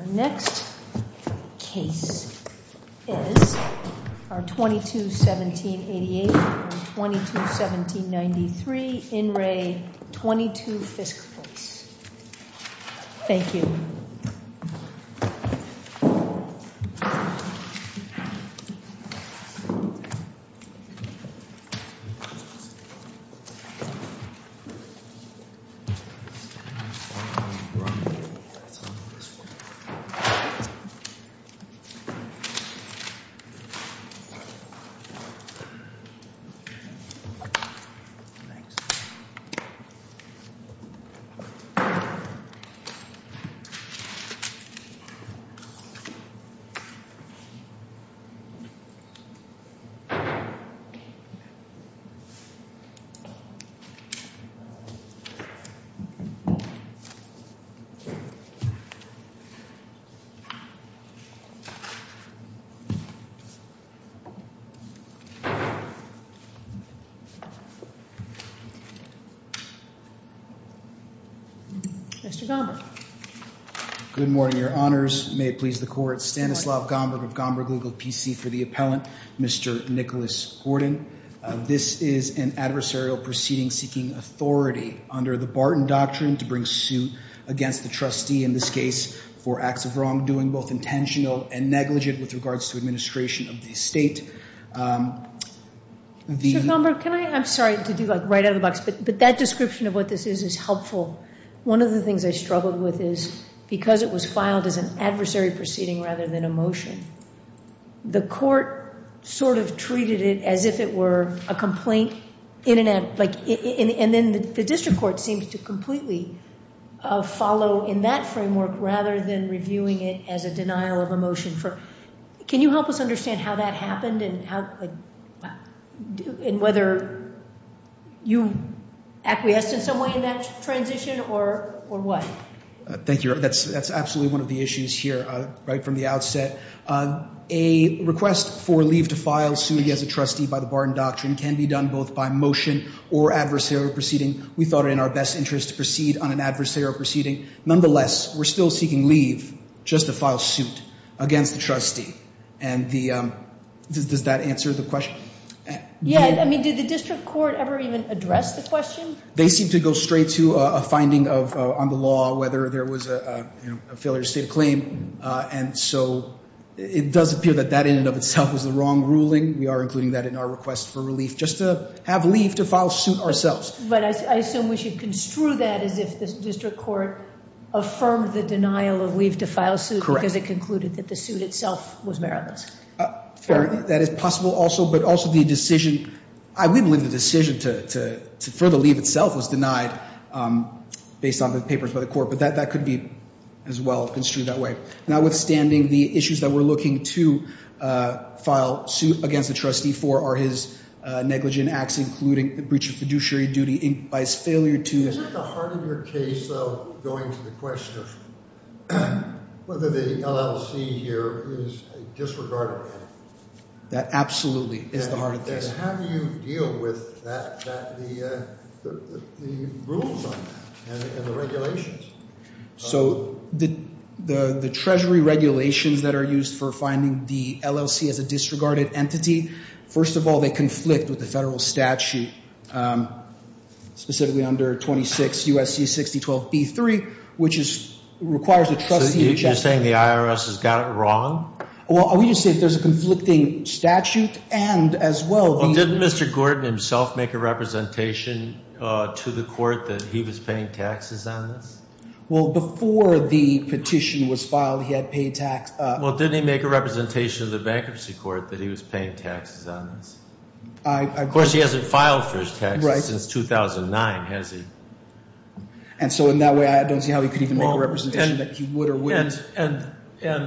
Our next case is 22-17-88 or 22-17-93, In Re. 22 Fiske Place. Thank you. Thank you. Thank you. Thank you. Thank you. Thank you. Thank you. Thank you. Good morning, your honors. May it please the court. Stanislav Gombrich of Gombrich Legal PC for the appellant, Mr. Nicholas Gordon. This is an adversarial proceeding seeking authority under the Barton Doctrine to bring suit against the trustee in this case for acts of wrongdoing, both intentional and negligent, with regards to administration of the estate. Mr. Gombrich, can I? I'm sorry to do that right out of the box, but that description of what this is is helpful. One of the things I struggled with is because it was filed as an adversary proceeding rather than a motion, the court sort of treated it as if it were a complaint. And then the district court seems to completely follow in that framework rather than reviewing it as a denial of a motion. Can you help us understand how that happened and whether you acquiesced in some way in that transition or what? Thank you. That's absolutely one of the issues here right from the outset. A request for leave to file, suing as a trustee by the Barton Doctrine can be done both by motion or adversarial proceeding. We thought it in our best interest to proceed on an adversarial proceeding. Nonetheless, we're still seeking leave just to file suit against the trustee. And does that answer the question? Yeah. I mean, did the district court ever even address the question? They seem to go straight to a finding on the law whether there was a failure to state a claim. And so it does appear that that in and of itself was the wrong ruling. We are including that in our request for relief just to have leave to file suit ourselves. But I assume we should construe that as if the district court affirmed the denial of leave to file suit because it concluded that the suit itself was meritless. Fair. That is possible also. But also the decision, I would believe the decision to further leave itself was denied based on the papers by the court. But that could be as well construed that way. Notwithstanding the issues that we're looking to file suit against the trustee for are his negligent acts, including the breach of fiduciary duty by his failure to- Is it the heart of your case, though, going to the question of whether the LLC here is a disregarded entity? That absolutely is the heart of the case. And how do you deal with that, the rules on that and the regulations? So the treasury regulations that are used for finding the LLC as a disregarded entity, first of all, they conflict with the federal statute, specifically under 26 U.S.C. 6012b3, which requires a trustee- So you're saying the IRS has got it wrong? Well, I would just say if there's a conflicting statute and as well- Well, didn't Mr. Gordon himself make a representation to the court that he was paying taxes on this? Well, before the petition was filed, he had paid tax- Well, didn't he make a representation to the bankruptcy court that he was paying taxes on this? Of course, he hasn't filed for his taxes since 2009, has he? And so in that way, I don't see how he could even make a representation that he would or wouldn't. And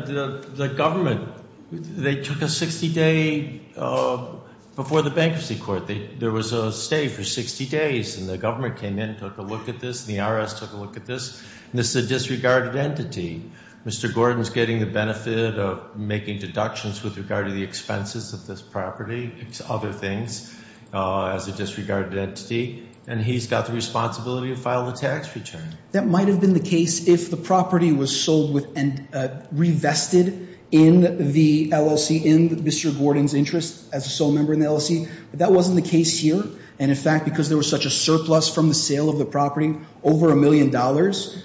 the government, they took a 60-day-before the bankruptcy court, there was a stay for 60 days, and the government came in and took a look at this, and the IRS took a look at this, and this is a disregarded entity. Mr. Gordon's getting the benefit of making deductions with regard to the expenses of this property, other things as a disregarded entity, and he's got the responsibility to file the tax return. That might have been the case if the property was sold and revested in the LLC, in Mr. Gordon's interest as a sole member in the LLC, but that wasn't the case here, and in fact, because there was such a surplus from the sale of the property, over a million dollars,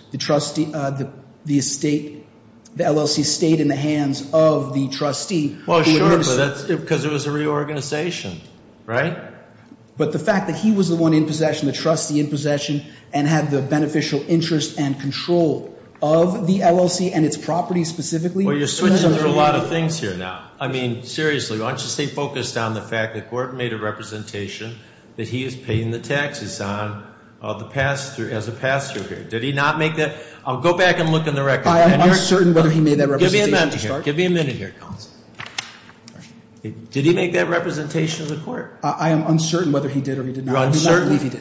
the LLC stayed in the hands of the trustee. Well, sure, because it was a reorganization, right? But the fact that he was the one in possession, the trustee in possession, and had the beneficial interest and control of the LLC and its property specifically. Well, you're switching through a lot of things here now. I mean, seriously, why don't you stay focused on the fact that Gordon made a representation that he is paying the taxes on as a pass-through here. Did he not make that? I'll go back and look in the record. I am uncertain whether he made that representation to start. Give me a minute here. Give me a minute here, Collins. Did he make that representation to the court? I am uncertain whether he did or he did not. You're uncertain?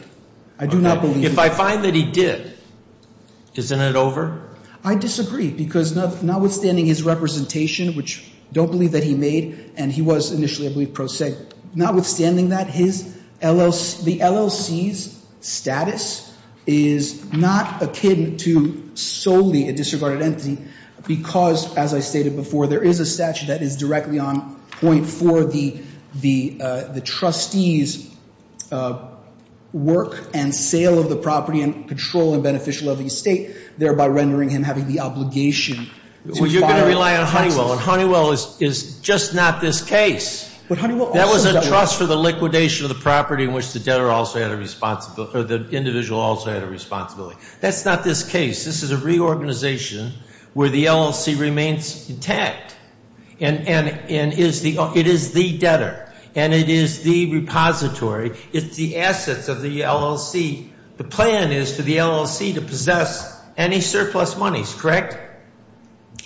I do not believe he did. If I find that he did, isn't it over? I disagree, because notwithstanding his representation, which I don't believe that he made, and he was initially, I believe, pro se, notwithstanding that, the LLC's status is not akin to solely a disregarded entity because, as I stated before, there is a statute that is directly on point for the trustee's work and sale of the property and control and beneficial of the estate, thereby rendering him having the obligation to fire taxes. Honeywell is just not this case. That was a trust for the liquidation of the property in which the debtor also had a responsibility or the individual also had a responsibility. That's not this case. This is a reorganization where the LLC remains intact, and it is the debtor, and it is the repository. It's the assets of the LLC. The plan is for the LLC to possess any surplus monies, correct?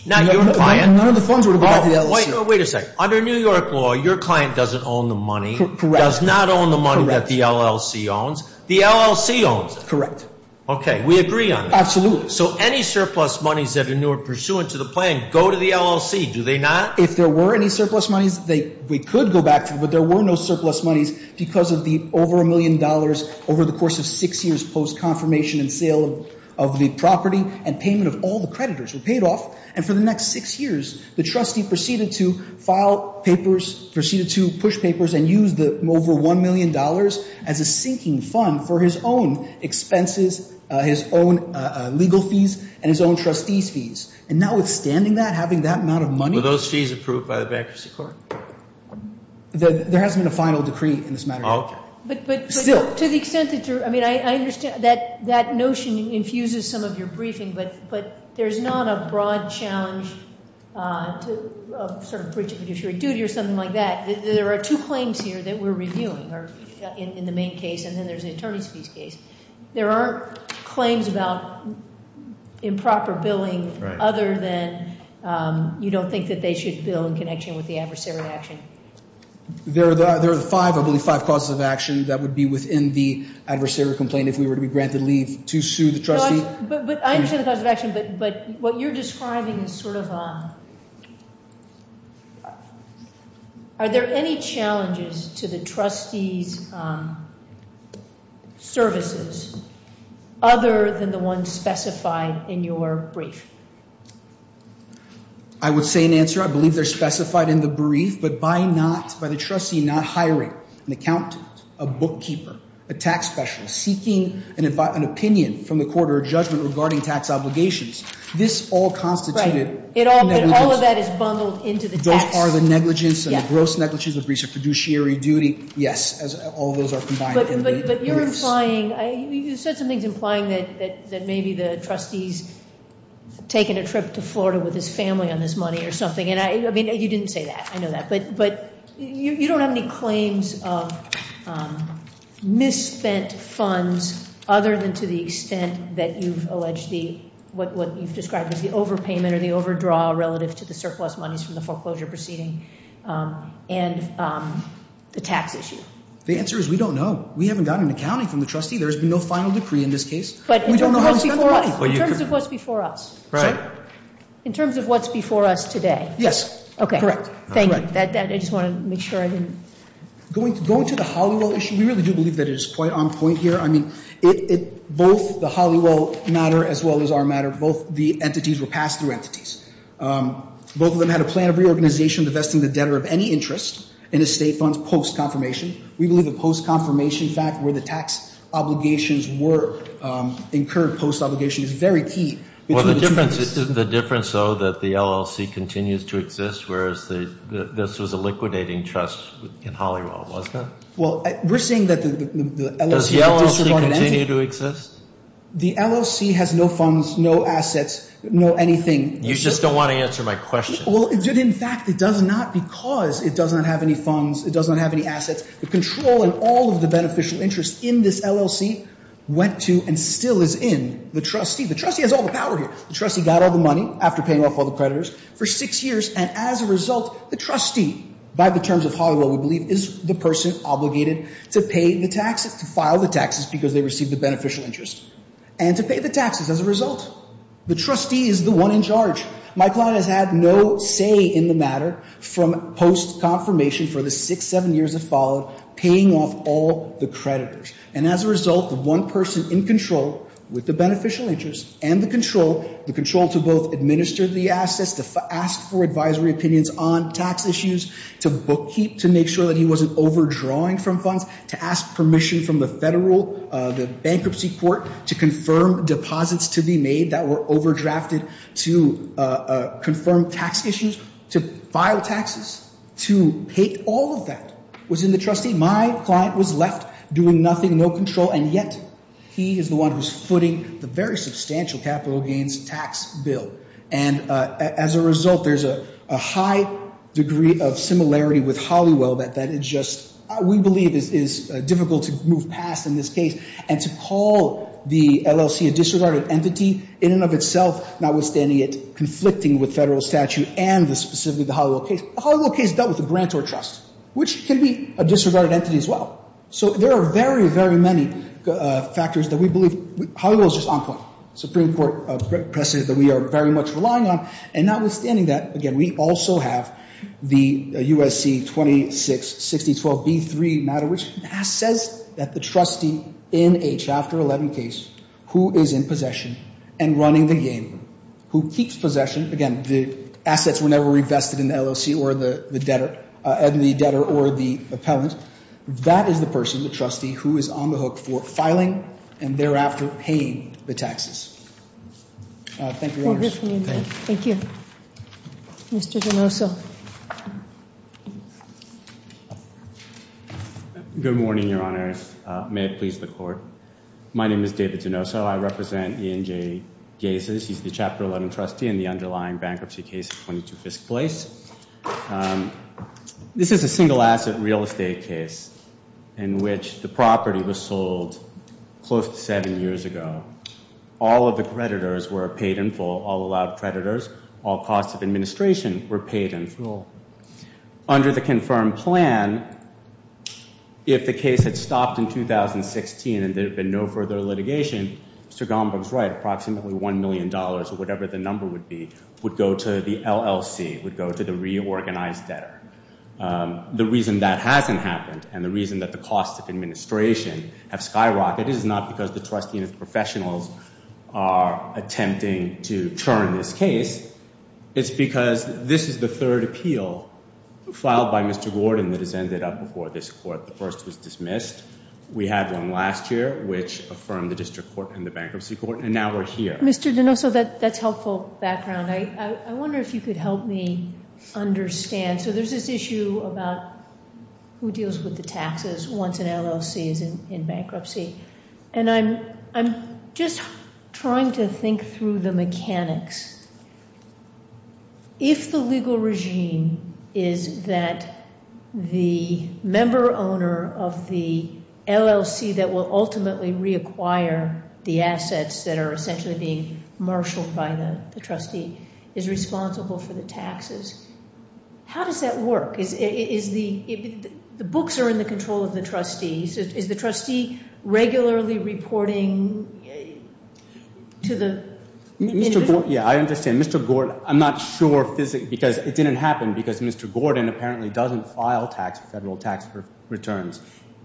None of the funds would have gone to the LLC. Wait a second. Under New York law, your client doesn't own the money, does not own the money that the LLC owns. The LLC owns it. Correct. Okay. We agree on that. Absolutely. So any surplus monies that are pursuant to the plan go to the LLC, do they not? If there were any surplus monies, we could go back to them, but there were no surplus monies because of the over a million dollars over the course of six years post-confirmation and sale of the property and payment of all the creditors were paid off, and for the next six years the trustee proceeded to file papers, proceeded to push papers and use the over $1 million as a sinking fund for his own expenses, his own legal fees, and his own trustee's fees, and notwithstanding that, having that amount of money. Were those fees approved by the bankruptcy court? There hasn't been a final decree in this matter yet. Okay. But to the extent that you're ‑‑I mean, I understand that that notion infuses some of your briefing, but there's not a broad challenge to sort of breach of fiduciary duty or something like that. There are two claims here that we're reviewing in the main case, and then there's the attorney's fees case. There aren't claims about improper billing other than you don't think that they should bill in connection with the adversary action. There are five, I believe, five causes of action that would be within the adversary complaint if we were to be granted leave to sue the trustee. But I understand the cause of action, but what you're describing is sort of a ‑‑ are there any challenges to the trustee's services other than the ones specified in your brief? I would say in answer, I believe they're specified in the brief, but by the trustee not hiring an accountant, a bookkeeper, a tax specialist, seeking an opinion from the court or a judgment regarding tax obligations, this all constituted negligence. Right. All of that is bundled into the tax. Those are the negligence and the gross negligence of breach of fiduciary duty. Yes, all those are combined in the briefs. But you're implying, you said some things implying that maybe the trustee's taken a trip to Florida with his family on this money or something. I mean, you didn't say that. I know that. But you don't have any claims of misspent funds other than to the extent that you've alleged the, what you've described as the overpayment or the overdraw relative to the surplus monies from the foreclosure proceeding and the tax issue. The answer is we don't know. We haven't gotten an accounting from the trustee. There has been no final decree in this case. We don't know how he spent the money. In terms of what's before us. Right. In terms of what's before us today. Yes. Okay. Correct. Thank you. I just want to make sure I didn't. Going to the Hollywell issue, we really do believe that it is quite on point here. I mean, both the Hollywell matter as well as our matter, both the entities were passed through entities. Both of them had a plan of reorganization divesting the debtor of any interest in the state funds post-confirmation. We believe the post-confirmation fact where the tax obligations were incurred post-obligation is very key. Well, the difference, though, that the LLC continues to exist, whereas this was a liquidating trust in Hollywell, was it? Well, we're saying that the LLC. Does the LLC continue to exist? The LLC has no funds, no assets, no anything. You just don't want to answer my question. Well, in fact, it does not because it does not have any funds. It does not have any assets. The control in all of the beneficial interest in this LLC went to and still is in the trustee. The trustee has all the power here. The trustee got all the money after paying off all the creditors for six years, and as a result, the trustee, by the terms of Hollywell, we believe, is the person obligated to pay the taxes, to file the taxes because they received the beneficial interest. And to pay the taxes as a result. The trustee is the one in charge. My client has had no say in the matter from post-confirmation for the six, seven years that followed, paying off all the creditors. And as a result, the one person in control with the beneficial interest and the control, the control to both administer the assets, to ask for advisory opinions on tax issues, to bookkeep to make sure that he wasn't overdrawing from funds, to ask permission from the federal bankruptcy court to confirm deposits to be made that were overdrafted to confirm tax issues, to file taxes, to pay all of that was in the trustee. My client was left doing nothing, no control, and yet he is the one who's footing the very substantial capital gains tax bill. And as a result, there's a high degree of similarity with Hollywell that it just, we believe, is difficult to move past in this case. And to call the LLC a disregarded entity in and of itself, notwithstanding it conflicting with federal statute and specifically the Hollywell case. The Hollywell case dealt with the grantor trust, which can be a disregarded entity as well. So there are very, very many factors that we believe, Hollywell is just on point. Supreme Court precedent that we are very much relying on. And notwithstanding that, again, we also have the USC 266012B3 matter which says that the trustee in a Chapter 11 case who is in possession and running the game, who keeps possession. Again, the assets were never invested in the LLC or the debtor, the debtor or the appellant. That is the person, the trustee, who is on the hook for filing and thereafter paying the taxes. Thank you very much. Thank you. Thank you. Mr. Donoso. Good morning, Your Honor. May it please the Court. My name is David Donoso. I represent E&J Gases. He's the Chapter 11 trustee in the underlying bankruptcy case at 22 Fisk Place. This is a single asset real estate case in which the property was sold close to seven years ago. All of the creditors were paid in full, all allowed creditors, all costs of administration were paid in full. Under the confirmed plan, if the case had stopped in 2016 and there had been no further litigation, Mr. Gomberg's right, approximately $1 million or whatever the number would be, would go to the LLC, would go to the reorganized debtor. The reason that hasn't happened and the reason that the costs of administration have skyrocketed is not because the trustee and his professionals are attempting to churn this case. It's because this is the third appeal filed by Mr. Gordon that has ended up before this Court. The first was dismissed. We had one last year, which affirmed the district court and the bankruptcy court, and now we're here. Mr. Donoso, that's helpful background. I wonder if you could help me understand. So there's this issue about who deals with the taxes once an LLC is in bankruptcy, and I'm just trying to think through the mechanics. If the legal regime is that the member owner of the LLC that will ultimately reacquire the assets that are essentially being marshaled by the trustee is responsible for the taxes, how does that work? The books are in the control of the trustees. Is the trustee regularly reporting to the individual? Yeah, I understand. Mr. Gordon, I'm not sure because it didn't happen because Mr. Gordon apparently doesn't file federal tax returns.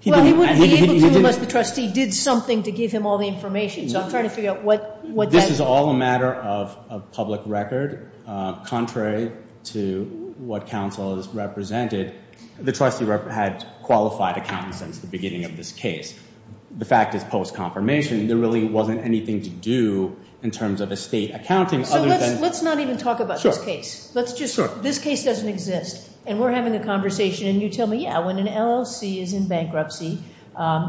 Well, he wouldn't be able to unless the trustee did something to give him all the information, so I'm trying to figure out what that is. This is all a matter of public record. Contrary to what counsel has represented, the trustee had qualified accountants since the beginning of this case. The fact is post-confirmation, there really wasn't anything to do in terms of estate accounting. So let's not even talk about this case. This case doesn't exist, and we're having a conversation, and you tell me, yeah, when an LLC is in bankruptcy,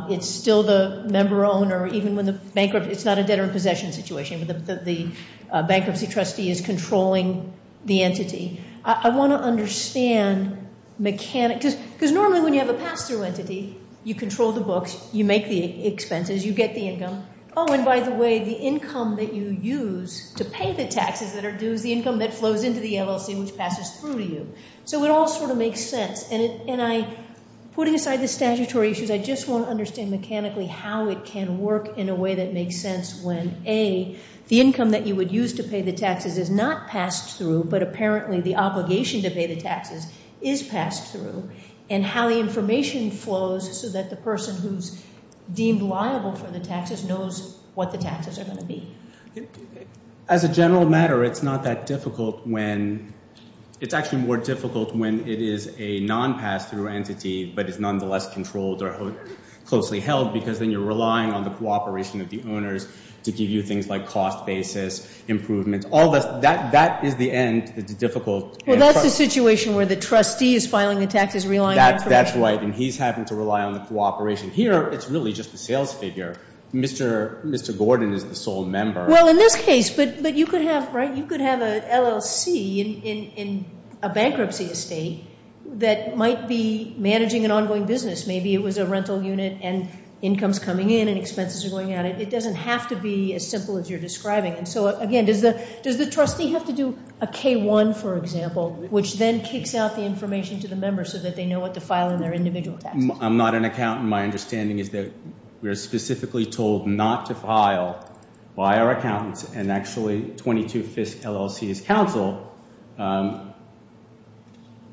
it's still the member owner, even when the bankruptcy, it's not a debtor in possession situation, but the bankruptcy trustee is controlling the entity. I want to understand, because normally when you have a pass-through entity, you control the books, you make the expenses, you get the income. Oh, and by the way, the income that you use to pay the taxes that are due is the income that flows into the LLC, which passes through to you. So it all sort of makes sense. And putting aside the statutory issues, I just want to understand mechanically how it can work in a way that makes sense when, A, the income that you would use to pay the taxes is not passed through, but apparently the obligation to pay the taxes is passed through, and how the information flows so that the person who's deemed liable for the taxes knows what the taxes are going to be. As a general matter, it's not that difficult when, it's actually more difficult when it is a non-pass-through entity, but it's nonetheless controlled or closely held, because then you're relying on the cooperation of the owners to give you things like cost basis, improvements, all this, that is the end, the difficult end. Well, that's the situation where the trustee is filing the taxes, relying on the corporation. That's right, and he's having to rely on the cooperation. Here, it's really just the sales figure. Mr. Gordon is the sole member. Well, in this case, but you could have, right, you could have an LLC in a bankruptcy estate that might be managing an ongoing business. Maybe it was a rental unit and income's coming in and expenses are going out. It doesn't have to be as simple as you're describing. And so, again, does the trustee have to do a K-1, for example, which then kicks out the information to the members so that they know what to file in their individual taxes? I'm not an accountant. My understanding is that we are specifically told not to file by our accountants, and actually 22-5th LLC's counsel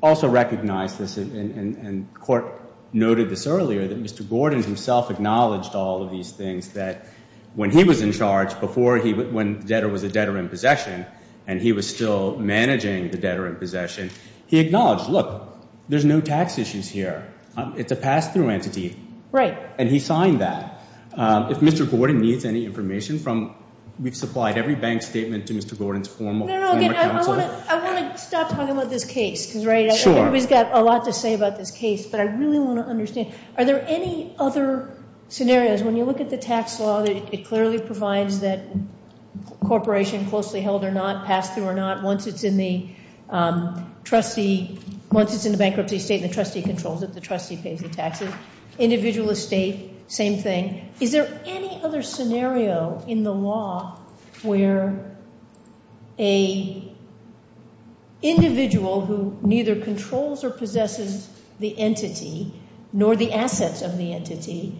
also recognized this, and the court noted this earlier, that Mr. Gordon himself acknowledged all of these things, that when he was in charge, before when the debtor was a debtor in possession and he was still managing the debtor in possession, he acknowledged, look, there's no tax issues here. It's a pass-through entity. Right. And he signed that. If Mr. Gordon needs any information from, we've supplied every bank statement to Mr. Gordon's former counsel. I want to stop talking about this case, because everybody's got a lot to say about this case, but I really want to understand, are there any other scenarios, when you look at the tax law, it clearly provides that a corporation, closely held or not, passed through or not, once it's in the bankruptcy state, the trustee controls it. The trustee pays the taxes. Individual estate, same thing. Is there any other scenario in the law where an individual who neither controls or possesses the entity nor the assets of the entity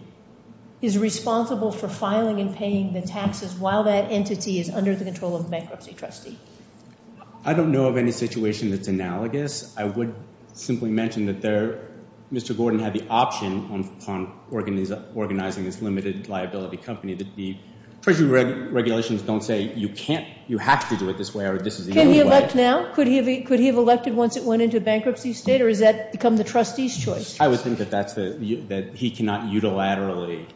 is responsible for filing and paying the taxes while that entity is under the control of a bankruptcy trustee? I don't know of any situation that's analogous. I would simply mention that Mr. Gordon had the option, upon organizing this limited liability company, that the treasury regulations don't say you can't, you have to do it this way or this is the only way. Can he elect now? Could he have elected once it went into a bankruptcy state, or has that become the trustee's choice? I would think that he cannot unilaterally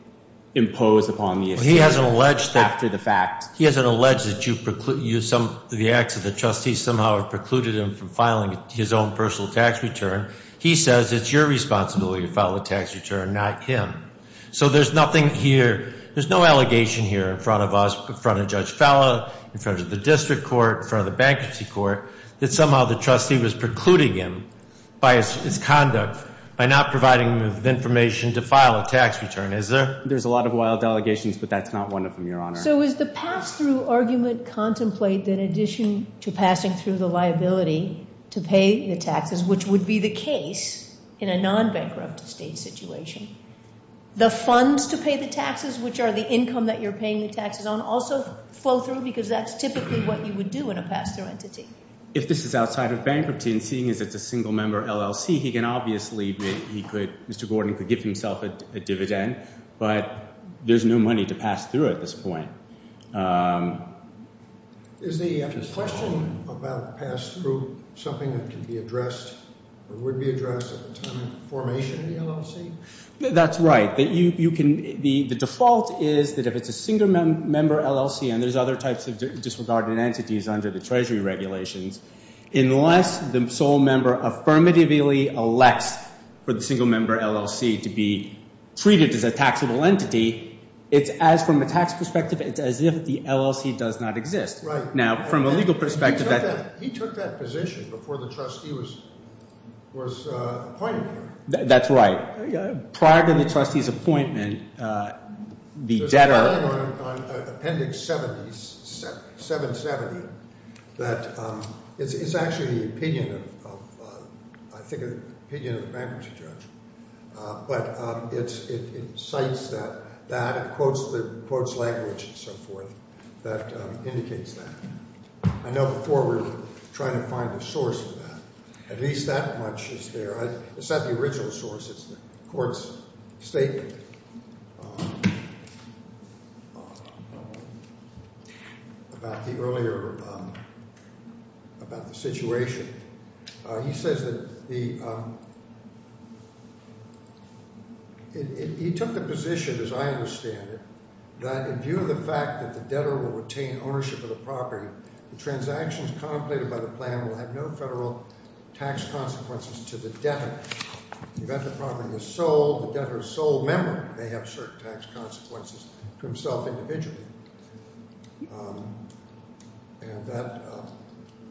impose upon the estate after the fact. He hasn't alleged that the acts of the trustee somehow have precluded him from filing his own personal tax return. He says it's your responsibility to file the tax return, not him. So there's nothing here, there's no allegation here in front of us, in front of Judge Fallah, in front of the district court, in front of the bankruptcy court, that somehow the trustee was precluding him by his conduct, by not providing him with information to file a tax return, is there? There's a lot of wild allegations, but that's not one of them, Your Honor. So is the pass-through argument contemplated in addition to passing through the liability to pay the taxes, which would be the case in a non-bankrupt estate situation? The funds to pay the taxes, which are the income that you're paying the taxes on, also flow through because that's typically what you would do in a pass-through entity. If this is outside of bankruptcy and seeing as it's a single-member LLC, he can obviously make – Mr. Gordon could give himself a dividend, but there's no money to pass through at this point. Is the question about pass-through something that can be addressed That's right. The default is that if it's a single-member LLC and there's other types of disregarded entities under the Treasury regulations, unless the sole member affirmatively elects for the single-member LLC to be treated as a taxable entity, it's as from a tax perspective, it's as if the LLC does not exist. Right. Now, from a legal perspective, that – He took that position before the trustee was appointed. That's right. Prior to the trustee's appointment, the debtor – There's an article in Appendix 770 that – it's actually the opinion of, I think, the opinion of the bankruptcy judge, but it cites that, it quotes the language and so forth that indicates that. I know before we're trying to find the source of that. At least that much is there. It's not the original source. It's the court's statement about the earlier – about the situation. He says that the – he took the position, as I understand it, that in view of the fact that the debtor will retain ownership of the property, the transactions contemplated by the plan will have no federal tax consequences to the debtor. The debtor's sole member may have certain tax consequences to himself individually. And that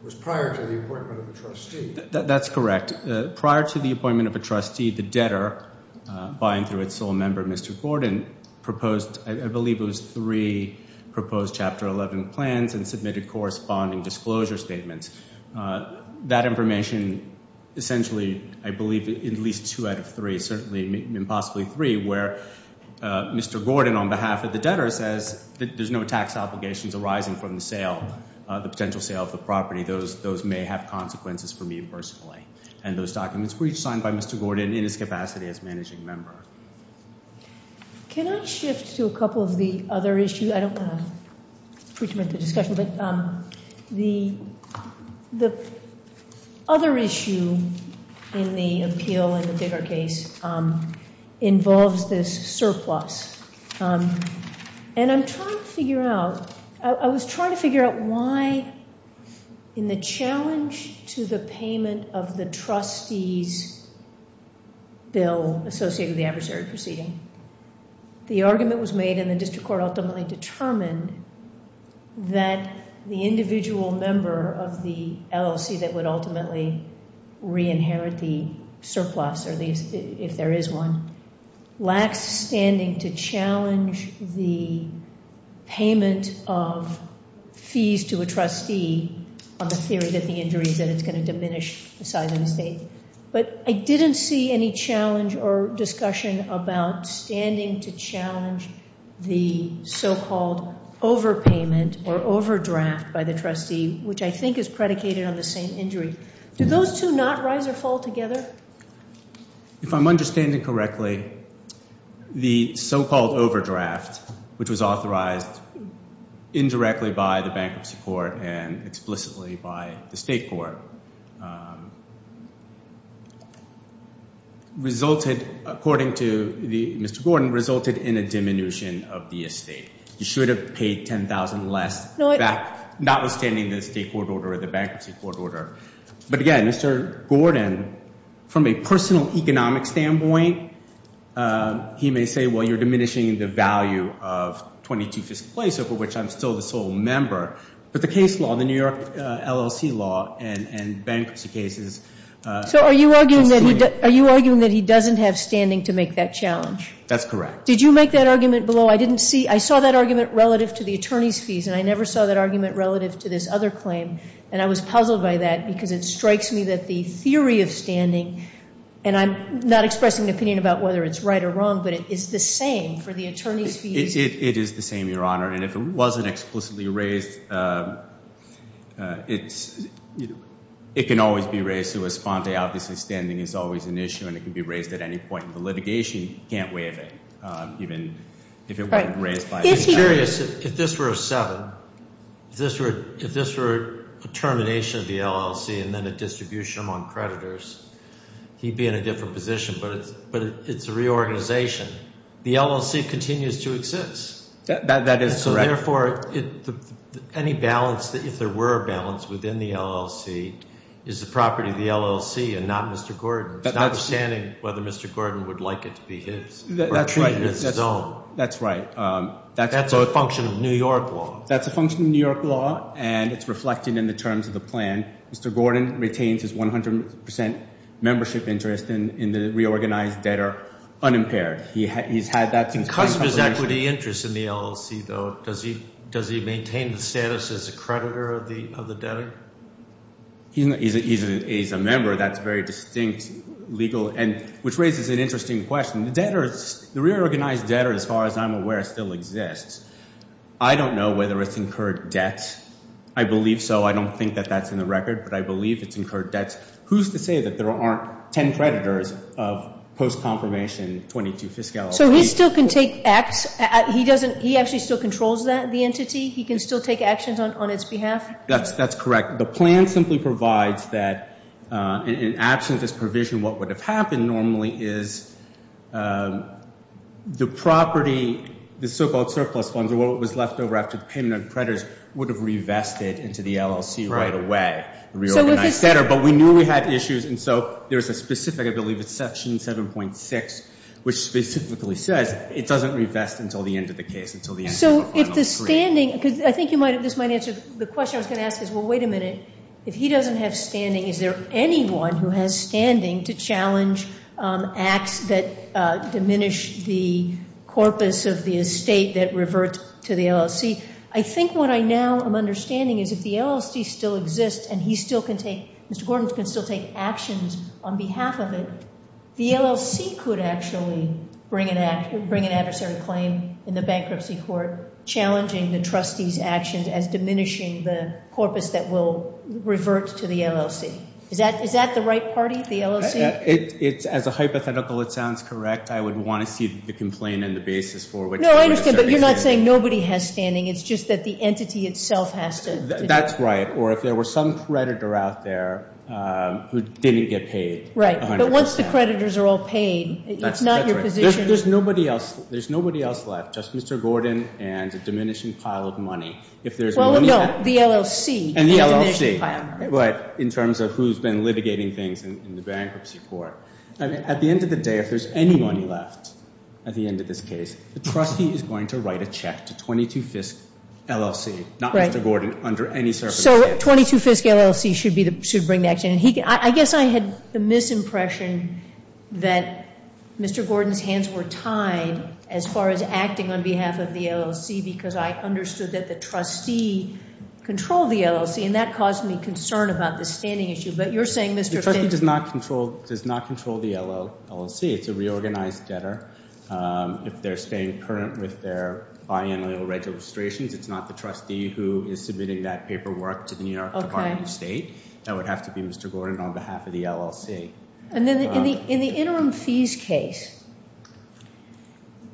was prior to the appointment of a trustee. That's correct. Prior to the appointment of a trustee, the debtor, buying through its sole member, Mr. Gordon, proposed – I believe it was three proposed Chapter 11 plans and submitted corresponding disclosure statements. That information essentially, I believe, at least two out of three, certainly impossibly three, where Mr. Gordon on behalf of the debtor says that there's no tax obligations arising from the sale, the potential sale of the property. Those may have consequences for me personally. And those documents were each signed by Mr. Gordon in his capacity as managing member. Can I shift to a couple of the other issues? I don't want to pre-terminate the discussion, but the other issue in the appeal and the debtor case involves this surplus. And I'm trying to figure out – I was trying to figure out why, in the challenge to the payment of the trustee's bill associated with the adversary proceeding, the argument was made and the district court ultimately determined that the individual member of the LLC that would ultimately re-inherit the surplus, or at least if there is one, lacks standing to challenge the payment of fees to a trustee on the theory that the injury is that it's going to diminish the size of the estate. But I didn't see any challenge or discussion about standing to challenge the so-called overpayment or overdraft by the trustee, which I think is predicated on the same injury. Do those two not rise or fall together? If I'm understanding correctly, the so-called overdraft, which was authorized indirectly by the bankruptcy court and explicitly by the state court, resulted, according to Mr. Gordon, resulted in a diminution of the estate. You should have paid $10,000 less, notwithstanding the state court order or the bankruptcy court order. But again, Mr. Gordon, from a personal economic standpoint, he may say, well, you're diminishing the value of 22 Fifth Place, of which I'm still the sole member. But the case law, the New York LLC law and bankruptcy cases. So are you arguing that he doesn't have standing to make that challenge? That's correct. Did you make that argument below? I didn't see. I saw that argument relative to the attorney's fees, and I never saw that argument relative to this other claim. And I was puzzled by that because it strikes me that the theory of standing, and I'm not expressing an opinion about whether it's right or wrong, but it is the same for the attorney's fees. It is the same, Your Honor. And if it wasn't explicitly raised, it can always be raised. So a sponte obviously standing is always an issue, and it can be raised at any point in the litigation. You can't waive it, even if it wasn't raised by the attorney. I'm curious if this were a seven, if this were a termination of the LLC and then a distribution among creditors, he'd be in a different position, but it's a reorganization. The LLC continues to exist. That is correct. So, therefore, any balance, if there were a balance within the LLC, is the property of the LLC and not Mr. Gordon's, notwithstanding whether Mr. Gordon would like it to be his or treat it as his own. That's right. That's a function of New York law. That's a function of New York law, and it's reflected in the terms of the plan. Mr. Gordon retains his 100 percent membership interest in the reorganized debtor, unimpaired. He's had that since time compilation. Because of his equity interest in the LLC, though, does he maintain the status as a creditor of the debtor? He's a member. That's very distinct legal, which raises an interesting question. The reorganized debtor, as far as I'm aware, still exists. I don't know whether it's incurred debts. I believe so. I don't think that that's in the record, but I believe it's incurred debts. Who's to say that there aren't 10 creditors of post-confirmation 22 fiscality? So he still can take acts? He actually still controls the entity? He can still take actions on its behalf? That's correct. The plan simply provides that, in absence of this provision, what would have happened normally is the property, the so-called surplus funds or what was left over after the payment of creditors, would have revested into the LLC right away. The reorganized debtor. But we knew we had issues, and so there's a specific, I believe it's Section 7.6, which specifically says it doesn't revest until the end of the case, until the end of the final decree. This might answer the question I was going to ask is, well, wait a minute. If he doesn't have standing, is there anyone who has standing to challenge acts that diminish the corpus of the estate that revert to the LLC? I think what I now am understanding is if the LLC still exists and Mr. Gordon can still take actions on behalf of it, the LLC could actually bring an adversary claim in the bankruptcy court, challenging the trustee's actions as diminishing the corpus that will revert to the LLC. Is that the right party, the LLC? As a hypothetical, it sounds correct. I would want to see the complaint and the basis for which there is standing. No, I understand, but you're not saying nobody has standing. It's just that the entity itself has to. That's right. Or if there were some creditor out there who didn't get paid 100%. Right, but once the creditors are all paid, it's not your position. That's right. There's nobody else left, just Mr. Gordon and a diminishing pile of money. Well, no, the LLC. And the LLC, right, in terms of who's been litigating things in the bankruptcy court. At the end of the day, if there's any money left at the end of this case, the trustee is going to write a check to 22 Fisk LLC, not Mr. Gordon, under any circumstances. So 22 Fisk LLC should bring the action. I guess I had the misimpression that Mr. Gordon's hands were tied as far as acting on behalf of the LLC because I understood that the trustee controlled the LLC, and that caused me concern about the standing issue. But you're saying Mr. Fisk? The trustee does not control the LLC. It's a reorganized debtor. If they're staying current with their biannual registrations, it's not the trustee who is submitting that paperwork to the New York Department of State. That would have to be Mr. Gordon on behalf of the LLC. And then in the interim fees case,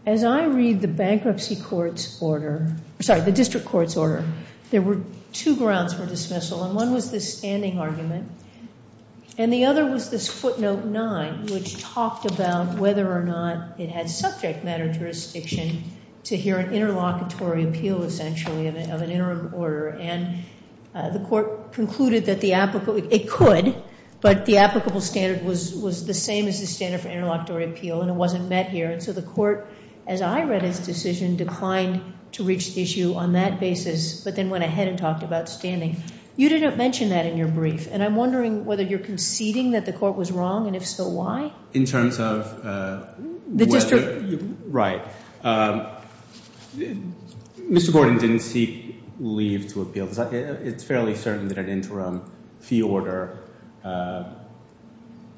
as I read the bankruptcy court's order, sorry, the district court's order, there were two grounds for dismissal, and one was the standing argument, and the other was this footnote 9, which talked about whether or not it had subject matter jurisdiction to hear an interlocutory appeal, essentially, of an interim order. And the court concluded that it could, but the applicable standard was the same as the standard for interlocutory appeal, and it wasn't met here. And so the court, as I read its decision, declined to reach the issue on that basis but then went ahead and talked about standing. You didn't mention that in your brief, and I'm wondering whether you're conceding that the court was wrong, and if so, why? In terms of whether... The district... Right. Mr. Gordon didn't seek leave to appeal. It's fairly certain that an interim fee order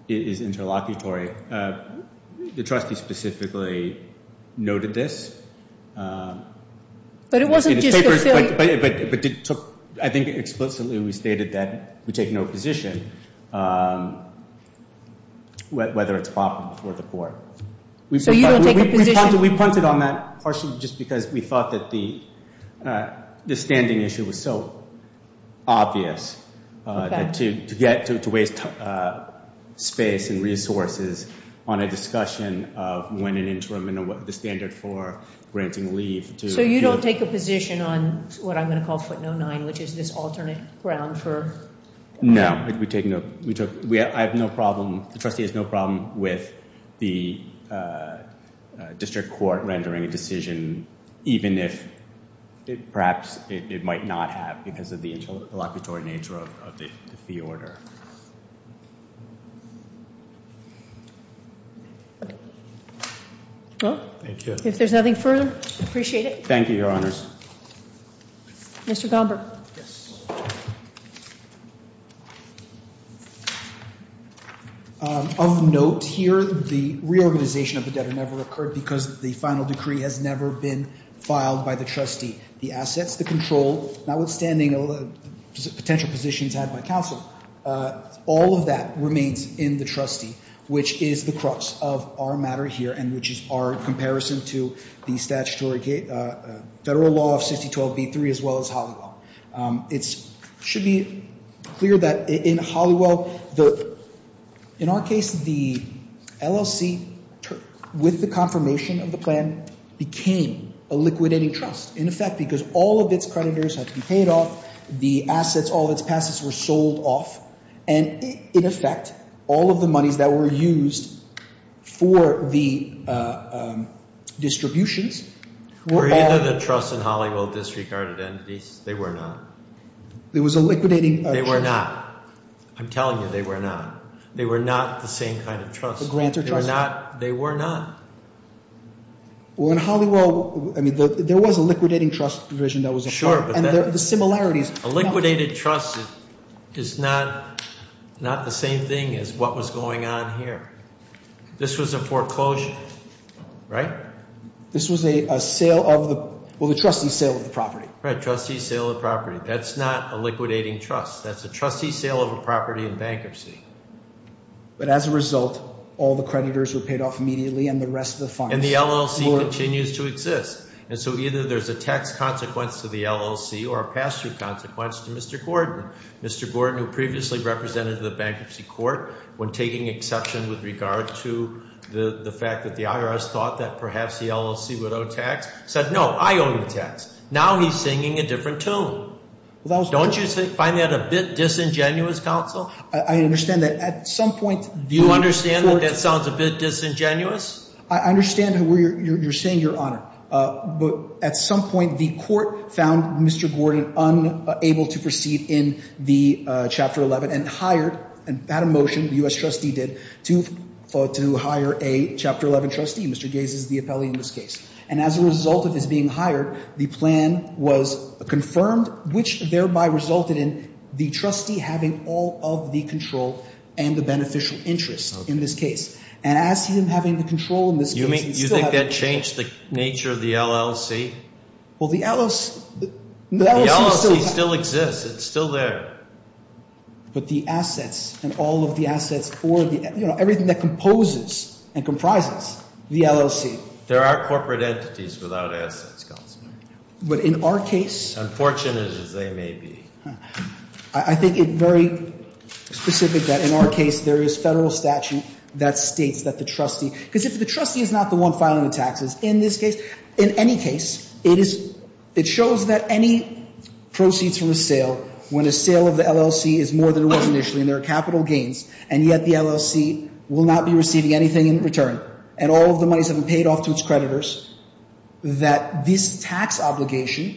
is interlocutory. The trustee specifically noted this. But it wasn't just the... But it took, I think explicitly we stated that we take no position whether it's proper before the court. So you don't take a position. We punted on that partially just because we thought that the standing issue was so obvious that to waste space and resources on a discussion of when an interim and the standard for granting leave to... So you don't take a position on what I'm going to call footnote nine, which is this alternate ground for... No. We take no... I have no problem. The trustee has no problem with the district court rendering a decision, even if perhaps it might not have because of the interlocutory nature of the fee order. Thank you. If there's nothing further, I appreciate it. Thank you, Your Honors. Mr. Gomberg. Yes. Of note here, the reorganization of the debtor never occurred because the final decree has never been filed by the trustee. The assets, the control, notwithstanding potential positions had by counsel, all of that remains in the trustee, which is the crux of our matter here and which is our comparison to the statutory federal law of 6012B3 as well as Holliwell. It should be clear that in Holliwell, in our case, the LLC with the confirmation of the plan became a liquidating trust, in effect, because all of its creditors had to be paid off, the assets, all of its passes were sold off, and, in effect, all of the monies that were used for the distributions were all— Were either the trust and Holliwell disregarded entities? They were not. There was a liquidating trust— They were not. I'm telling you, they were not. They were not the same kind of trust. The grantor trust— They were not. Well, in Holliwell, I mean, there was a liquidating trust provision that was— Sure, but that— And the similarities— A liquidated trust is not the same thing as what was going on here. This was a foreclosure, right? This was a sale of the—well, a trustee sale of the property. Right, trustee sale of the property. That's not a liquidating trust. That's a trustee sale of a property in bankruptcy. But as a result, all the creditors were paid off immediately and the rest of the funds— And the LLC continues to exist. And so either there's a tax consequence to the LLC or a pass-through consequence to Mr. Gordon. Mr. Gordon, who previously represented the bankruptcy court when taking exception with regard to the fact that the IRS thought that perhaps the LLC would owe tax, said, No, I owe you tax. Now he's singing a different tune. Don't you find that a bit disingenuous, counsel? I understand that at some point— Do you understand that that sounds a bit disingenuous? I understand where you're saying, Your Honor. But at some point, the court found Mr. Gordon unable to proceed in the Chapter 11 and hired—and had a motion, the U.S. trustee did, to hire a Chapter 11 trustee. Mr. Gaze is the appellee in this case. And as a result of his being hired, the plan was confirmed, which thereby resulted in the trustee having all of the control and the beneficial interest in this case. And as to him having the control in this case— You think that changed the nature of the LLC? Well, the LLC— The LLC still exists. It's still there. But the assets and all of the assets for the—you know, everything that composes and comprises the LLC— There are corporate entities without assets, counsel. But in our case— Unfortunate as they may be. I think it's very specific that in our case there is federal statute that states that the trustee— Because if the trustee is not the one filing the taxes in this case, in any case, it is— It shows that any proceeds from a sale, when a sale of the LLC is more than it was initially and there are capital gains, and yet the LLC will not be receiving anything in return, and all of the money has been paid off to its creditors, that this tax obligation,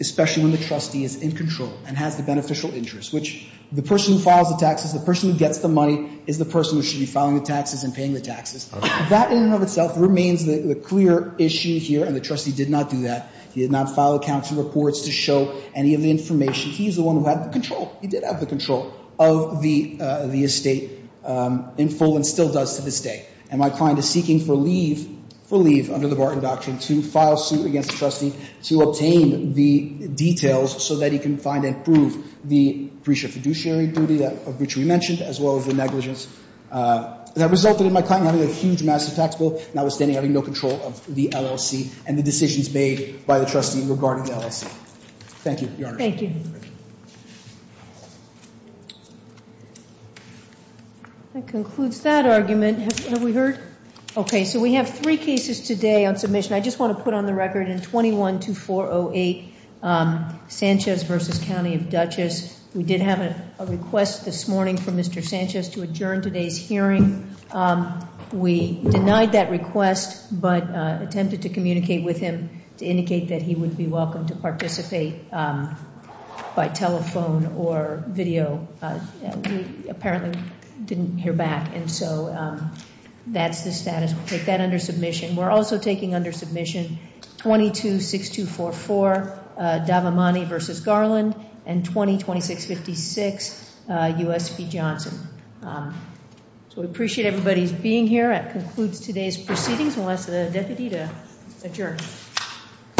especially when the trustee is in control and has the beneficial interest, which the person who files the taxes, the person who gets the money, is the person who should be filing the taxes and paying the taxes. That in and of itself remains the clear issue here, and the trustee did not do that. He did not file accounting reports to show any of the information. He's the one who had the control. He did have the control of the estate in full and still does to this day. And my client is seeking for leave—for leave under the Barton Doctrine to file suit against the trustee to obtain the details so that he can find and prove the breach of fiduciary duty of which we mentioned, as well as the negligence. That resulted in my client having a huge massive tax bill, notwithstanding having no control of the LLC and the decisions made by the trustee regarding the LLC. Thank you, Your Honor. Thank you. Thank you. That concludes that argument. Have we heard? Okay, so we have three cases today on submission. I just want to put on the record in 21-408, Sanchez v. County of Dutchess. We did have a request this morning from Mr. Sanchez to adjourn today's hearing. We denied that request but attempted to communicate with him to indicate that he would be welcome to participate by telephone or video. We apparently didn't hear back, and so that's the status. We'll take that under submission. We're also taking under submission 22-6244, Davamani v. Garland, and 20-2656, USP Johnson. We appreciate everybody's being here. That concludes today's proceedings. We'll ask the deputy to adjourn.